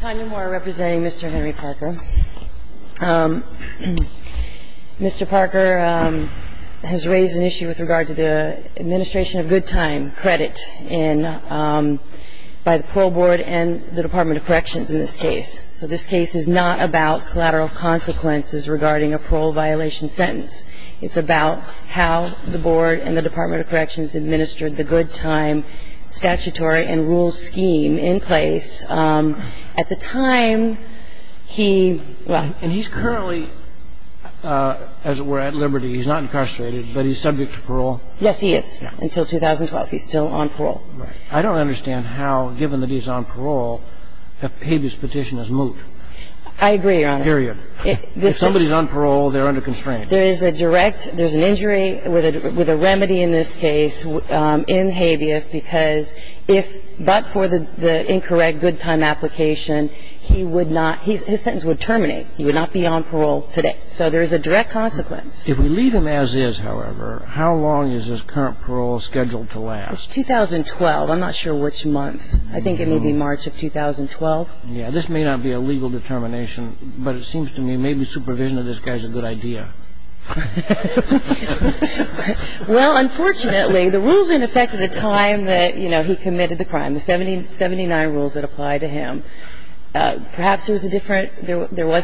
Tanya Moore representing Mr. Henry Parker. Mr. Parker has raised an issue with regard to the administration of good time credit by the Parole Board and the Department of Corrections in this case. So this case is not about collateral consequences regarding a parole violation sentence. It's about how the Board and the Department of Corrections administered the good time statutory and rule scheme in place. At the time, he, well. And he's currently, as it were, at liberty. He's not incarcerated, but he's subject to parole. Yes, he is, until 2012. He's still on parole. Right. I don't understand how, given that he's on parole, a habeas petition is moot. I agree, Your Honor. Period. If somebody's on parole, they're under constraint. There is a direct, there's an injury with a remedy in this case in habeas because if, but for the incorrect good time application, he would not, his sentence would terminate. He would not be on parole today. So there is a direct consequence. If we leave him as is, however, how long is his current parole scheduled to last? It's 2012. I'm not sure which month. I think it may be March of 2012. Yeah. This may not be a legal determination, but it seems to me maybe supervision of this guy is a good idea. Well, unfortunately, the rules, in effect, at the time that, you know, he committed the crime, the 79 rules that apply to him, perhaps there was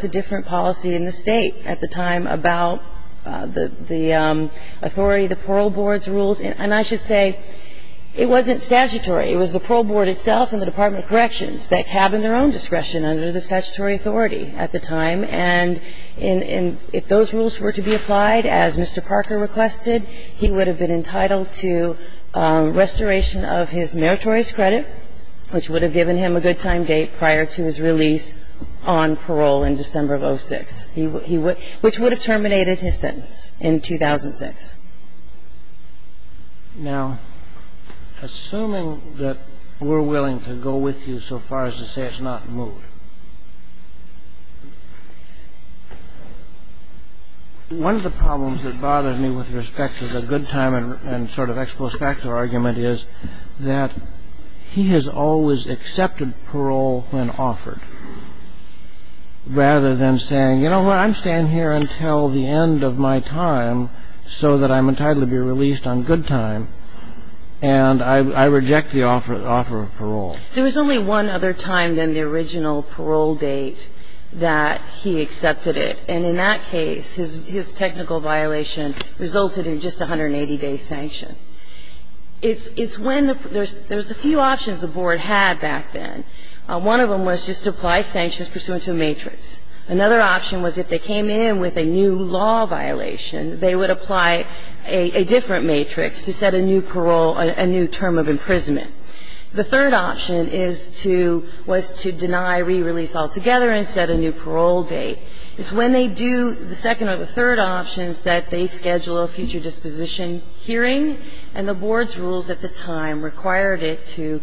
a different policy in the State at the time about the authority, the Parole Board's rules. And I should say, it wasn't statutory. It was the Parole Board itself and the Department of Corrections that cabined their own discretion under the statutory authority at the time. And if those rules were to be applied, as Mr. Parker requested, he would have been entitled to restoration of his meritorious credit, which would have given him a good time date prior to his release on parole in December of 06, which would have terminated his sentence in 2006. Now, assuming that we're willing to go with you so far as to say it's not moved, one of the problems that bothers me with respect to the good time and sort of ex post facto argument is that he has always accepted parole when offered, rather than saying, you know what, I'm staying here until the end of my time so that I'm entitled to be released on good time, and I reject the offer of parole. There was only one other time than the original parole date that he accepted it. And in that case, his technical violation resulted in just a 180-day sanction. It's when there's a few options the Board had back then. One of them was just to apply sanctions pursuant to a matrix. Another option was if they came in with a new law violation, they would apply a different matrix to set a new parole, a new term of imprisonment. The third option is to, was to deny re-release altogether and set a new parole date. It's when they do the second or the third options that they schedule a future disposition hearing, and the Board's rules at the time required it to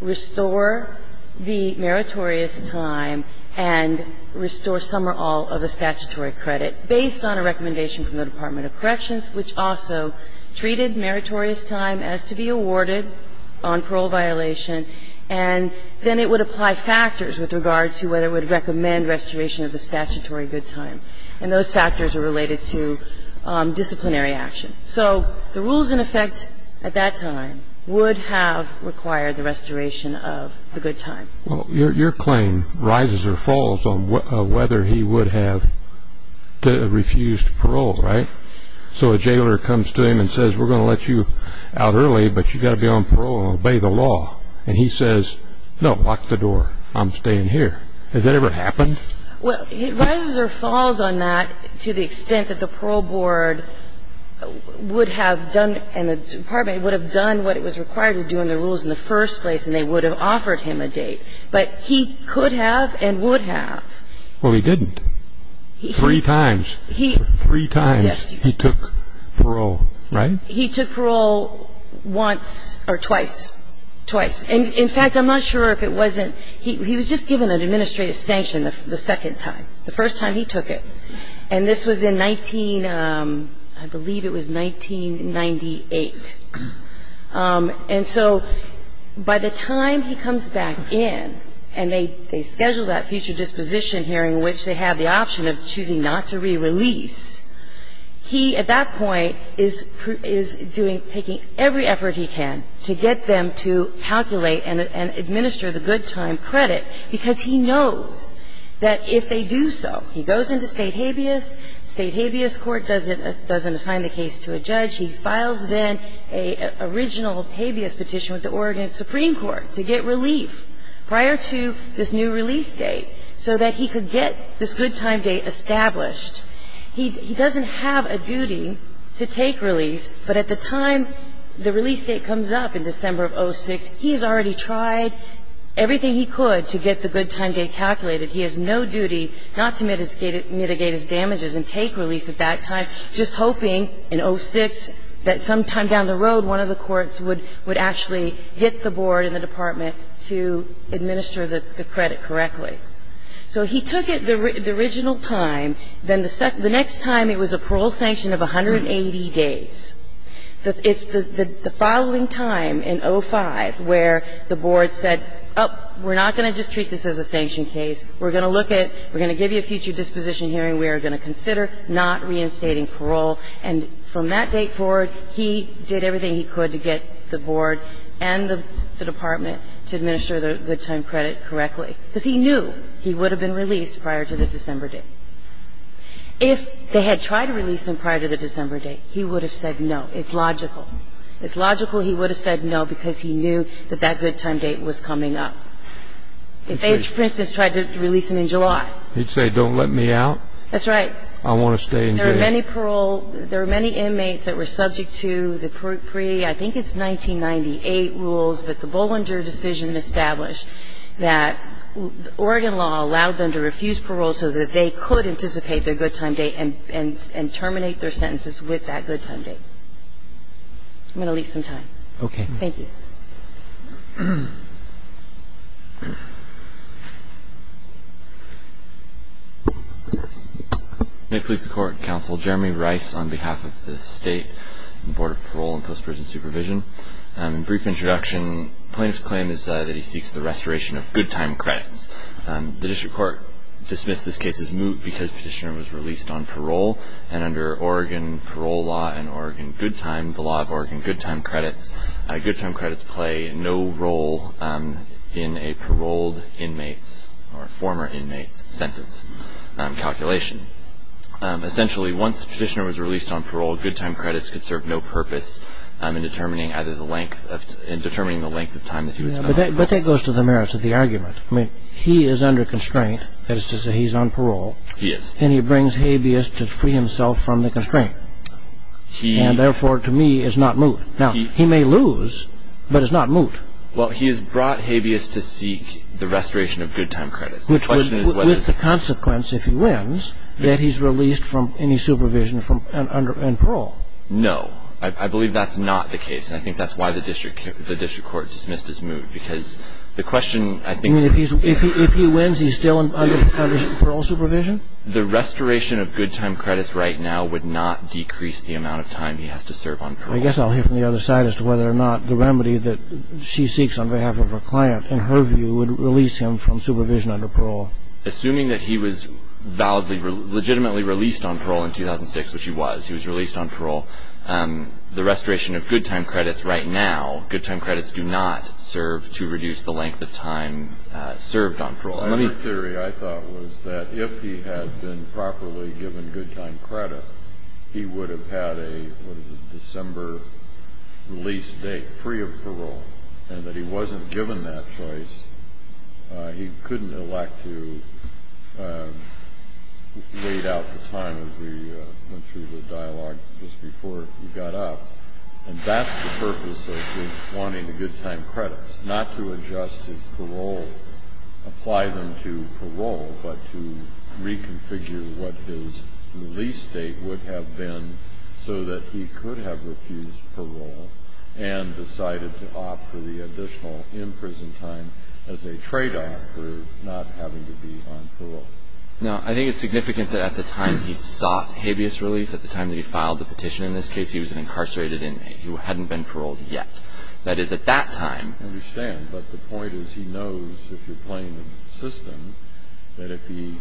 restore the meritorious time and restore some or all of the statutory credit based on a recommendation from the Department of Corrections, which also treated meritorious time as to be awarded on parole violation, and then it would apply factors with regard to whether it would recommend restoration of the statutory good time. And those factors are related to disciplinary action. So the rules in effect at that time would have required the restoration of the good time. Well, your claim rises or falls on whether he would have refused parole, right? So a jailer comes to him and says, we're going to let you out early, but you've got to be on parole and obey the law. And he says, no, lock the door. I'm staying here. Has that ever happened? Well, it rises or falls on that to the extent that the parole board would have done and the department would have done what it was required to do in the rules in the first place, and they would have offered him a date. But he could have and would have. Well, he didn't. Three times. Three times he took parole, right? He took parole once or twice, twice. In fact, I'm not sure if it wasn't he was just given an administrative sanction the second time, the first time he took it. And this was in 19, I believe it was 1998. And so by the time he comes back in and they schedule that future disposition hearing, which they have the option of choosing not to re-release, he, at that point, is taking every effort he can to get them to calculate and administer the good time credit, because he knows that if they do so, he goes into state habeas, state habeas court doesn't assign the case to a judge, he files then an original habeas petition with the Oregon Supreme Court to get relief prior to this new release date so that he could get this good time date established. He doesn't have a duty to take release, but at the time the release date comes up in December of 06, he has already tried everything he could to get the good time date calculated. He has no duty not to mitigate his damages and take release at that time, just hoping in 06 that sometime down the road one of the courts would actually get the board and the department to administer the credit correctly. So he took it the original time. Then the next time it was a parole sanction of 180 days. It's the following time in 05 where the board said, oh, we're not going to just treat this as a sanction case. We're going to look at we're going to give you a future disposition hearing. We are going to consider not reinstating parole. And from that date forward, he did everything he could to get the board and the department to administer the good time credit correctly because he knew he would have been released prior to the December date. If they had tried to release him prior to the December date, he would have said no. It's logical. It's logical he would have said no because he knew that that good time date was coming up. If they, for instance, tried to release him in July. He'd say, don't let me out. That's right. I want to stay in jail. There are many parole, there are many inmates that were subject to the pre-I think it's 1998 rules, but the Bollinger decision established that Oregon law allowed them to refuse parole so that they could anticipate their good time date and terminate their sentences with that good time date. I'm going to leave some time. Okay. Thank you. May it please the Court and Counsel, Jeremy Rice on behalf of the State Board of Parole and Post-Prison Supervision. Brief introduction. Plaintiff's claim is that he seeks the restoration of good time credits. The district court dismissed this case as moot because Petitioner was released on parole and under Oregon parole law and Oregon good time, the law of Oregon good time credits, good time credits play no role in a paroled inmate's or former inmate's sentence calculation. Essentially, once Petitioner was released on parole, good time credits could serve no purpose in determining either the length of, in determining the length of time that he was in. But that goes to the merits of the argument. I mean, he is under constraint, that is to say he's on parole. He is. And he brings habeas to free himself from the constraint. He. And therefore, to me, is not moot. Now, he may lose, but it's not moot. Well, he has brought habeas to seek the restoration of good time credits. The question is whether. Which would, with the consequence, if he wins, that he's released from any supervision from, under, and parole. No. I believe that's not the case. And I think that's why the district, the district court dismissed as moot. Because the question, I think. I mean, if he's, if he wins, he's still under parole supervision? The restoration of good time credits right now would not decrease the amount of time he has to serve on parole. I guess I'll hear from the other side as to whether or not the remedy that she seeks on behalf of her client, in her view, would release him from supervision under parole. Assuming that he was validly, legitimately released on parole in 2006, which he was, he was released on parole, the restoration of good time credits right now, good time credits do not serve to reduce the length of time served on parole. The only theory I thought was that if he had been properly given good time credit, he would have had a, what is it, December release date, free of parole. And that he wasn't given that choice, he couldn't elect to wait out the time as we went through the dialogue just before he got up. And that's the purpose of wanting the good time credits. Not to adjust his parole, apply them to parole, but to reconfigure what his release date would have been so that he could have refused parole and decided to opt for the additional in-prison time as a tradeoff for not having to be on parole. Now, I think it's significant that at the time he sought habeas relief, at the time that he filed the petition, in this case he was an incarcerated inmate who hadn't been paroled yet. That is, at that time. I understand, but the point is he knows, if you're playing the system, that if he,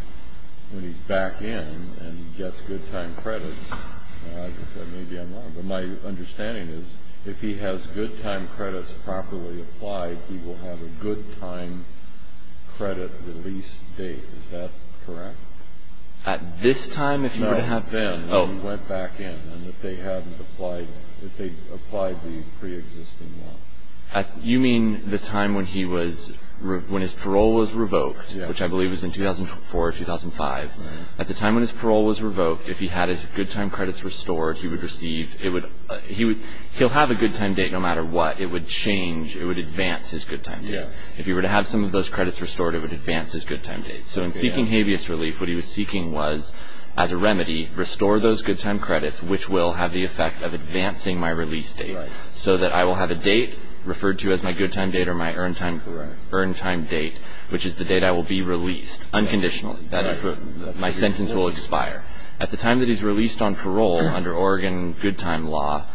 when he's back in and gets good time credits, that may be unlawful, but my understanding is if he has good time credits properly applied, he will have a good time credit release date. Is that correct? At this time, if you were to have. Then, when he went back in and if they hadn't applied, if they'd applied the preexisting one. You mean the time when he was, when his parole was revoked, which I believe was in 2004 or 2005. At the time when his parole was revoked, if he had his good time credits restored, he would receive, it would, he would, he'll have a good time date no matter what. It would change, it would advance his good time date. If he were to have some of those credits restored, it would advance his good time date. So in seeking habeas relief, what he was seeking was, as a remedy, restore those good time credits, which will have the effect of advancing my release date, so that I will have a date referred to as my good time date or my earned time date, which is the date I will be released, unconditionally. My sentence will expire. At the time that he's released on parole, under Oregon good time law,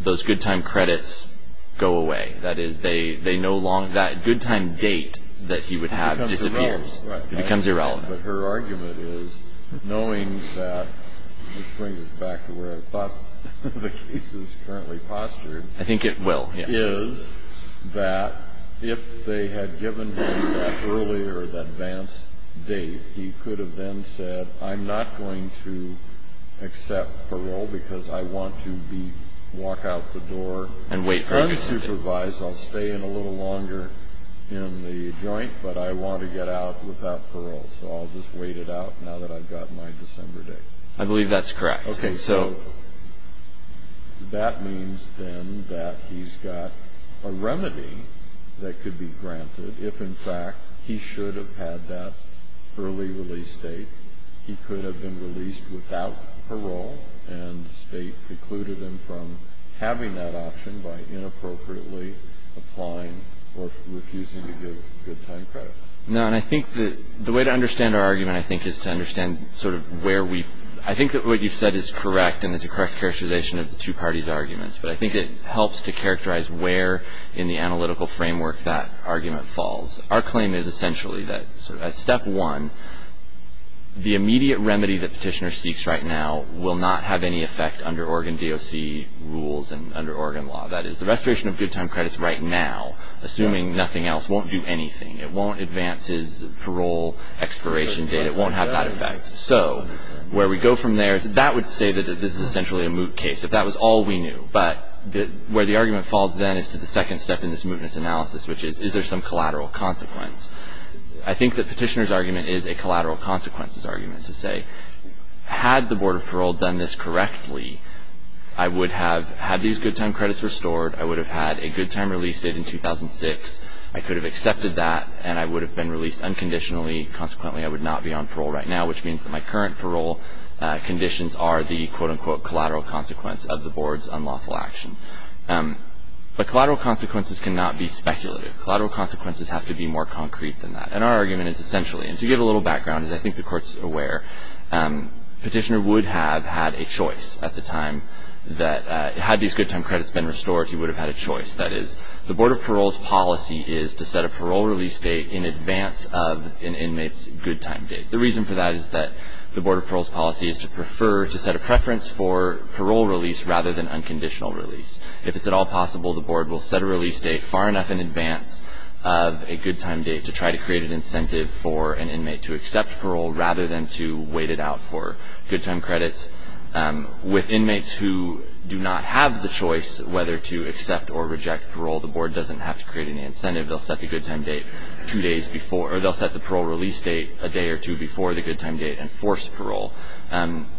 those good time credits go away. That is, they no longer, that good time date that he would have disappears. It becomes irrelevant. But her argument is, knowing that, which brings us back to where I thought the case is currently postured. I think it will, yes. Is that if they had given him that earlier, that advance date, he could have then said, I'm not going to accept parole because I want to walk out the door unsupervised. I'll stay in a little longer in the joint, but I want to get out without parole. So I'll just wait it out now that I've got my December date. I believe that's correct. Okay, so that means then that he's got a remedy that could be granted. If, in fact, he should have had that early release date, he could have been released without parole, and the State precluded him from having that option by inappropriately applying or refusing to give good time credits. No, and I think the way to understand our argument, I think, is to understand sort of where we, I think that what you've said is correct, and it's a correct characterization of the two parties' arguments. But I think it helps to characterize where in the analytical framework that argument falls. Our claim is essentially that step one, the immediate remedy that Petitioner seeks right now will not have any effect under Oregon DOC rules and under Oregon law. That is, the restoration of good time credits right now, assuming nothing else, won't do anything. It won't advance his parole expiration date. It won't have that effect. So where we go from there is that would say that this is essentially a moot case, if that was all we knew. But where the argument falls then is to the second step in this mootness analysis, which is, is there some collateral consequence? I think that Petitioner's argument is a collateral consequences argument to say, had the Board of Parole done this correctly, I would have had these good time credits restored, I would have had a good time release date in 2006, I could have accepted that, and I would have been released unconditionally. Consequently, I would not be on parole right now, which means that my current parole conditions are the, quote, unquote, collateral consequence of the Board's unlawful action. But collateral consequences cannot be speculative. Collateral consequences have to be more concrete than that. And our argument is essentially, and to give a little background, as I think the Court is aware, Petitioner would have had a choice at the time that, had these good time credits been restored, he would have had a choice. That is, the Board of Parole's policy is to set a parole release date in advance of an inmate's good time date. The reason for that is that the Board of Parole's policy is to prefer, to set a preference for parole release rather than unconditional release. If it's at all possible, the Board will set a release date far enough in advance of a good time date to try to create an incentive for an inmate to accept parole rather than to wait it out for good time credits. With inmates who do not have the choice whether to accept or reject parole, the Board doesn't have to create any incentive. They'll set the parole release date a day or two before the good time date and force parole.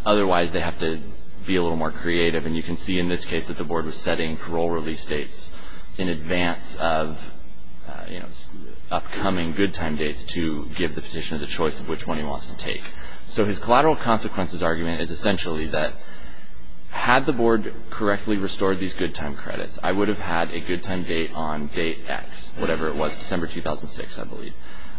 Otherwise, they have to be a little more creative. And you can see in this case that the Board was setting parole release dates in advance of upcoming good time dates to give the Petitioner the choice of which one he wants to take. So his collateral consequences argument is essentially that, had the Board correctly restored these good time credits, I would have had a good time date on date X, whatever it was, December 2006, I believe.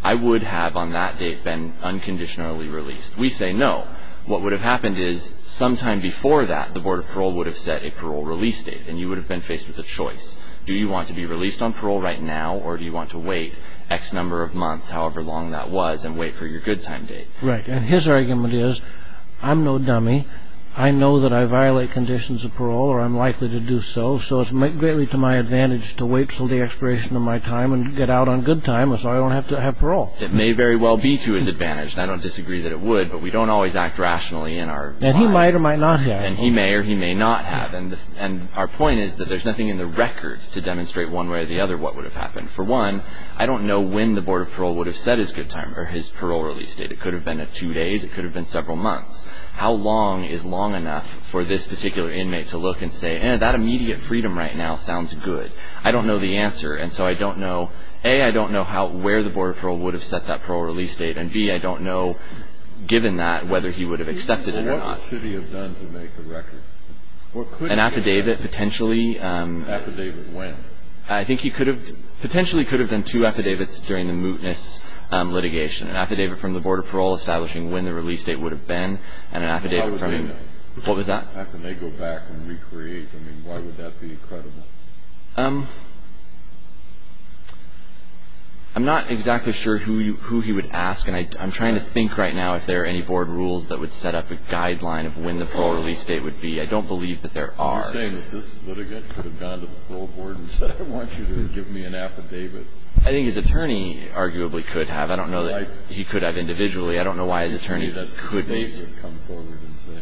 I would have on that date been unconditionally released. We say no. What would have happened is, sometime before that, the Board of Parole would have set a parole release date and you would have been faced with a choice. Do you want to be released on parole right now or do you want to wait X number of months, however long that was, and wait for your good time date? Right. And his argument is, I'm no dummy. I know that I violate conditions of parole or I'm likely to do so. So it's greatly to my advantage to wait until the expiration of my time and get out on good time so I don't have to have parole. It may very well be to his advantage, and I don't disagree that it would, but we don't always act rationally in our minds. And he might or might not have. And he may or he may not have. And our point is that there's nothing in the record to demonstrate one way or the other what would have happened. For one, I don't know when the Board of Parole would have set his good time or his parole release date. It could have been at two days. It could have been several months. How long is long enough for this particular inmate to look and say, eh, that immediate freedom right now sounds good? I don't know the answer. And so I don't know, A, I don't know where the Board of Parole would have set that parole release date, and, B, I don't know, given that, whether he would have accepted it or not. What should he have done to make the record? An affidavit, potentially. Affidavit when? I think he could have, potentially could have done two affidavits during the mootness litigation, an affidavit from the Board of Parole establishing when the release date would have been and an affidavit from him. How would they know? What was that? How could they go back and recreate? I mean, why would that be credible? I'm not exactly sure who he would ask, and I'm trying to think right now if there are any board rules that would set up a guideline of when the parole release date would be. I don't believe that there are. Are you saying that this litigant could have gone to the parole board and said, I want you to give me an affidavit? I think his attorney arguably could have. I don't know that he could have individually. I don't know why his attorney could have.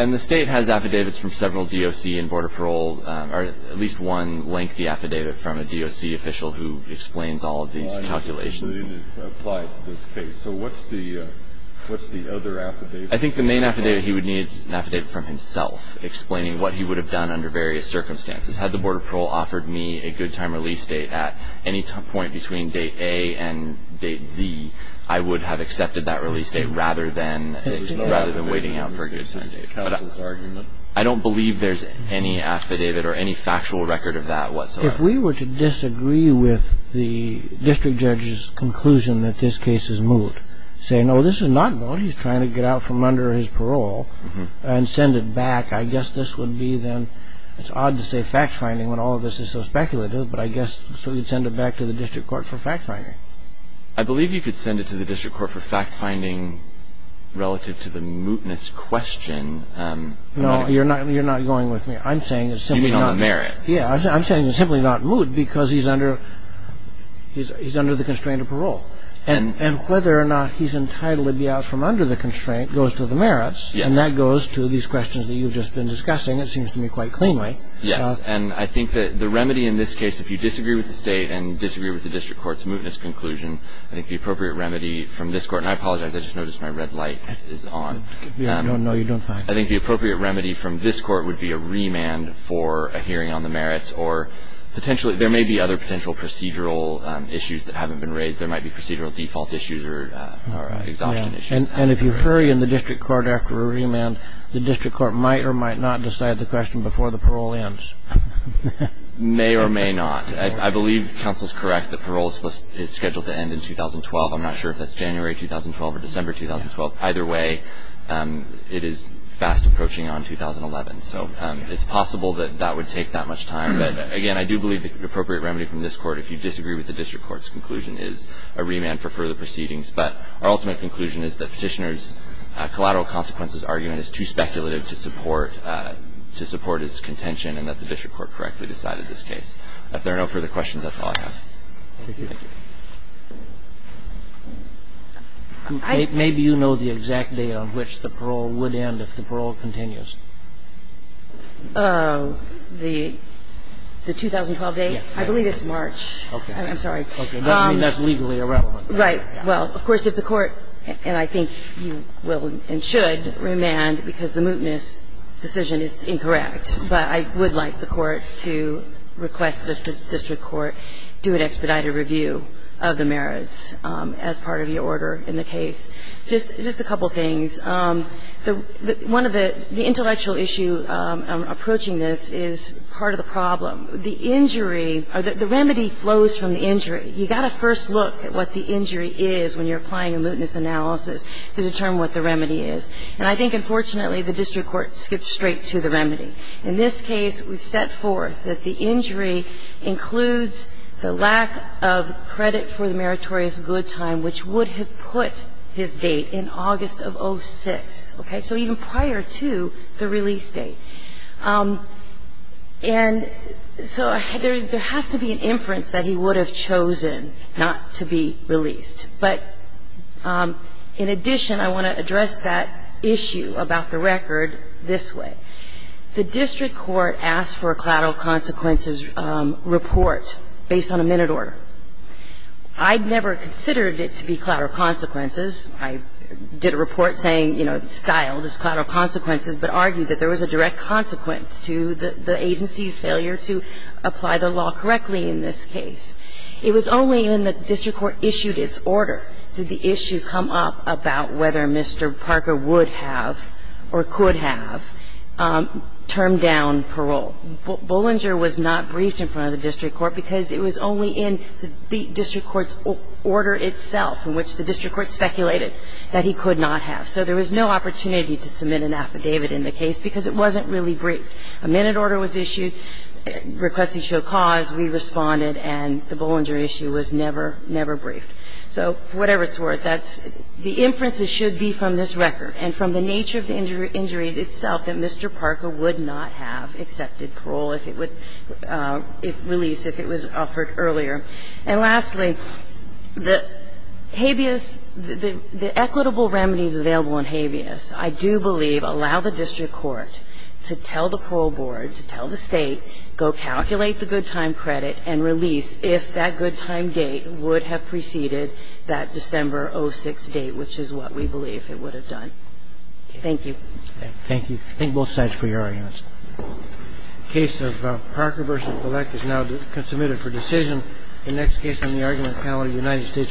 And the State has affidavits from several DOC and Board of Parole, or at least one lengthy affidavit from a DOC official who explains all of these calculations. So what's the other affidavit? I think the main affidavit he would need is an affidavit from himself explaining what he would have done under various circumstances. Had the Board of Parole offered me a good time release date at any point between date A and date Z, I would have accepted that release date rather than waiting out for a good time date. But I don't believe there's any affidavit or any factual record of that whatsoever. If we were to disagree with the district judge's conclusion that this case is moot, say, no, this is not moot, he's trying to get out from under his parole and send it back, I guess this would be then, it's odd to say fact-finding when all of this is so speculative, but I guess so he'd send it back to the district court for fact-finding. I believe you could send it to the district court for fact-finding relative to the mootness question. No, you're not going with me. I'm saying it's simply not moot because he's under the constraint of parole. And whether or not he's entitled to be out from under the constraint goes to the merits, and that goes to these questions that you've just been discussing, it seems to me, quite cleanly. Yes, and I think that the remedy in this case, if you disagree with the state and disagree with the district court's mootness conclusion, I think the appropriate remedy from this court, and I apologize, I just noticed my red light is on. No, you don't find it. I think the appropriate remedy from this court would be a remand for a hearing on the merits or there may be other potential procedural issues that haven't been raised. There might be procedural default issues or exhaustion issues. And if you hurry in the district court after a remand, the district court might or might not decide the question before the parole ends. May or may not. I believe counsel's correct that parole is scheduled to end in 2012. I'm not sure if that's January 2012 or December 2012. Either way, it is fast approaching on 2011, so it's possible that that would take that much time. But, again, I do believe the appropriate remedy from this court, if you disagree with the district court's conclusion, is a remand for further proceedings. But our ultimate conclusion is that Petitioner's collateral consequences argument is too speculative to support his contention and that the district court correctly decided this case. If there are no further questions, that's all I have. Thank you. Maybe you know the exact date on which the parole would end if the parole continues. The 2012 date? Yes. I believe it's March. Okay. I'm sorry. Okay. That's legally irrelevant. Right. Well, of course, if the court, and I think you will and should, remand because the mootness decision is incorrect. But I would like the court to request that the district court do an expedited review of the merits as part of your order in the case. Just a couple of things. One of the intellectual issue approaching this is part of the problem. The injury or the remedy flows from the injury. You've got to first look at what the injury is when you're applying a mootness analysis to determine what the remedy is. And I think, unfortunately, the district court skipped straight to the remedy. In this case, we've set forth that the injury includes the lack of credit for the meritorious good time, which would have put his date in August of 06. Okay. So even prior to the release date. And so there has to be an inference that he would have chosen not to be released. But in addition, I want to address that issue about the record this way. The district court asked for a collateral consequences report based on a minute order. I'd never considered it to be collateral consequences. I did a report saying, you know, styled as collateral consequences, but argued that there was a direct consequence to the agency's failure to apply the law correctly in this case. It was only when the district court issued its order did the issue come up about whether Mr. Parker would have or could have termed down parole. Bollinger was not briefed in front of the district court because it was only in the district court's order itself in which the district court speculated that he could So there was no opportunity to submit an affidavit in the case because it wasn't really briefed. A minute order was issued requesting show cause. We responded, and the Bollinger issue was never, never briefed. So whatever it's worth, that's the inferences should be from this record and from the nature of the injury itself that Mr. Parker would not have accepted parole if it would release, if it was offered earlier. And lastly, the habeas, the equitable remedies available in habeas, I do believe allow the district court to tell the parole board, to tell the State, go calculate the good time credit and release if that good time date would have preceded that December 06 date, which is what we believe it would have done. Thank you. Thank you. I thank both sides for your arguments. The case of Parker v. Bullock is now submitted for decision. The next case on the argument panel, United States v. Buckles.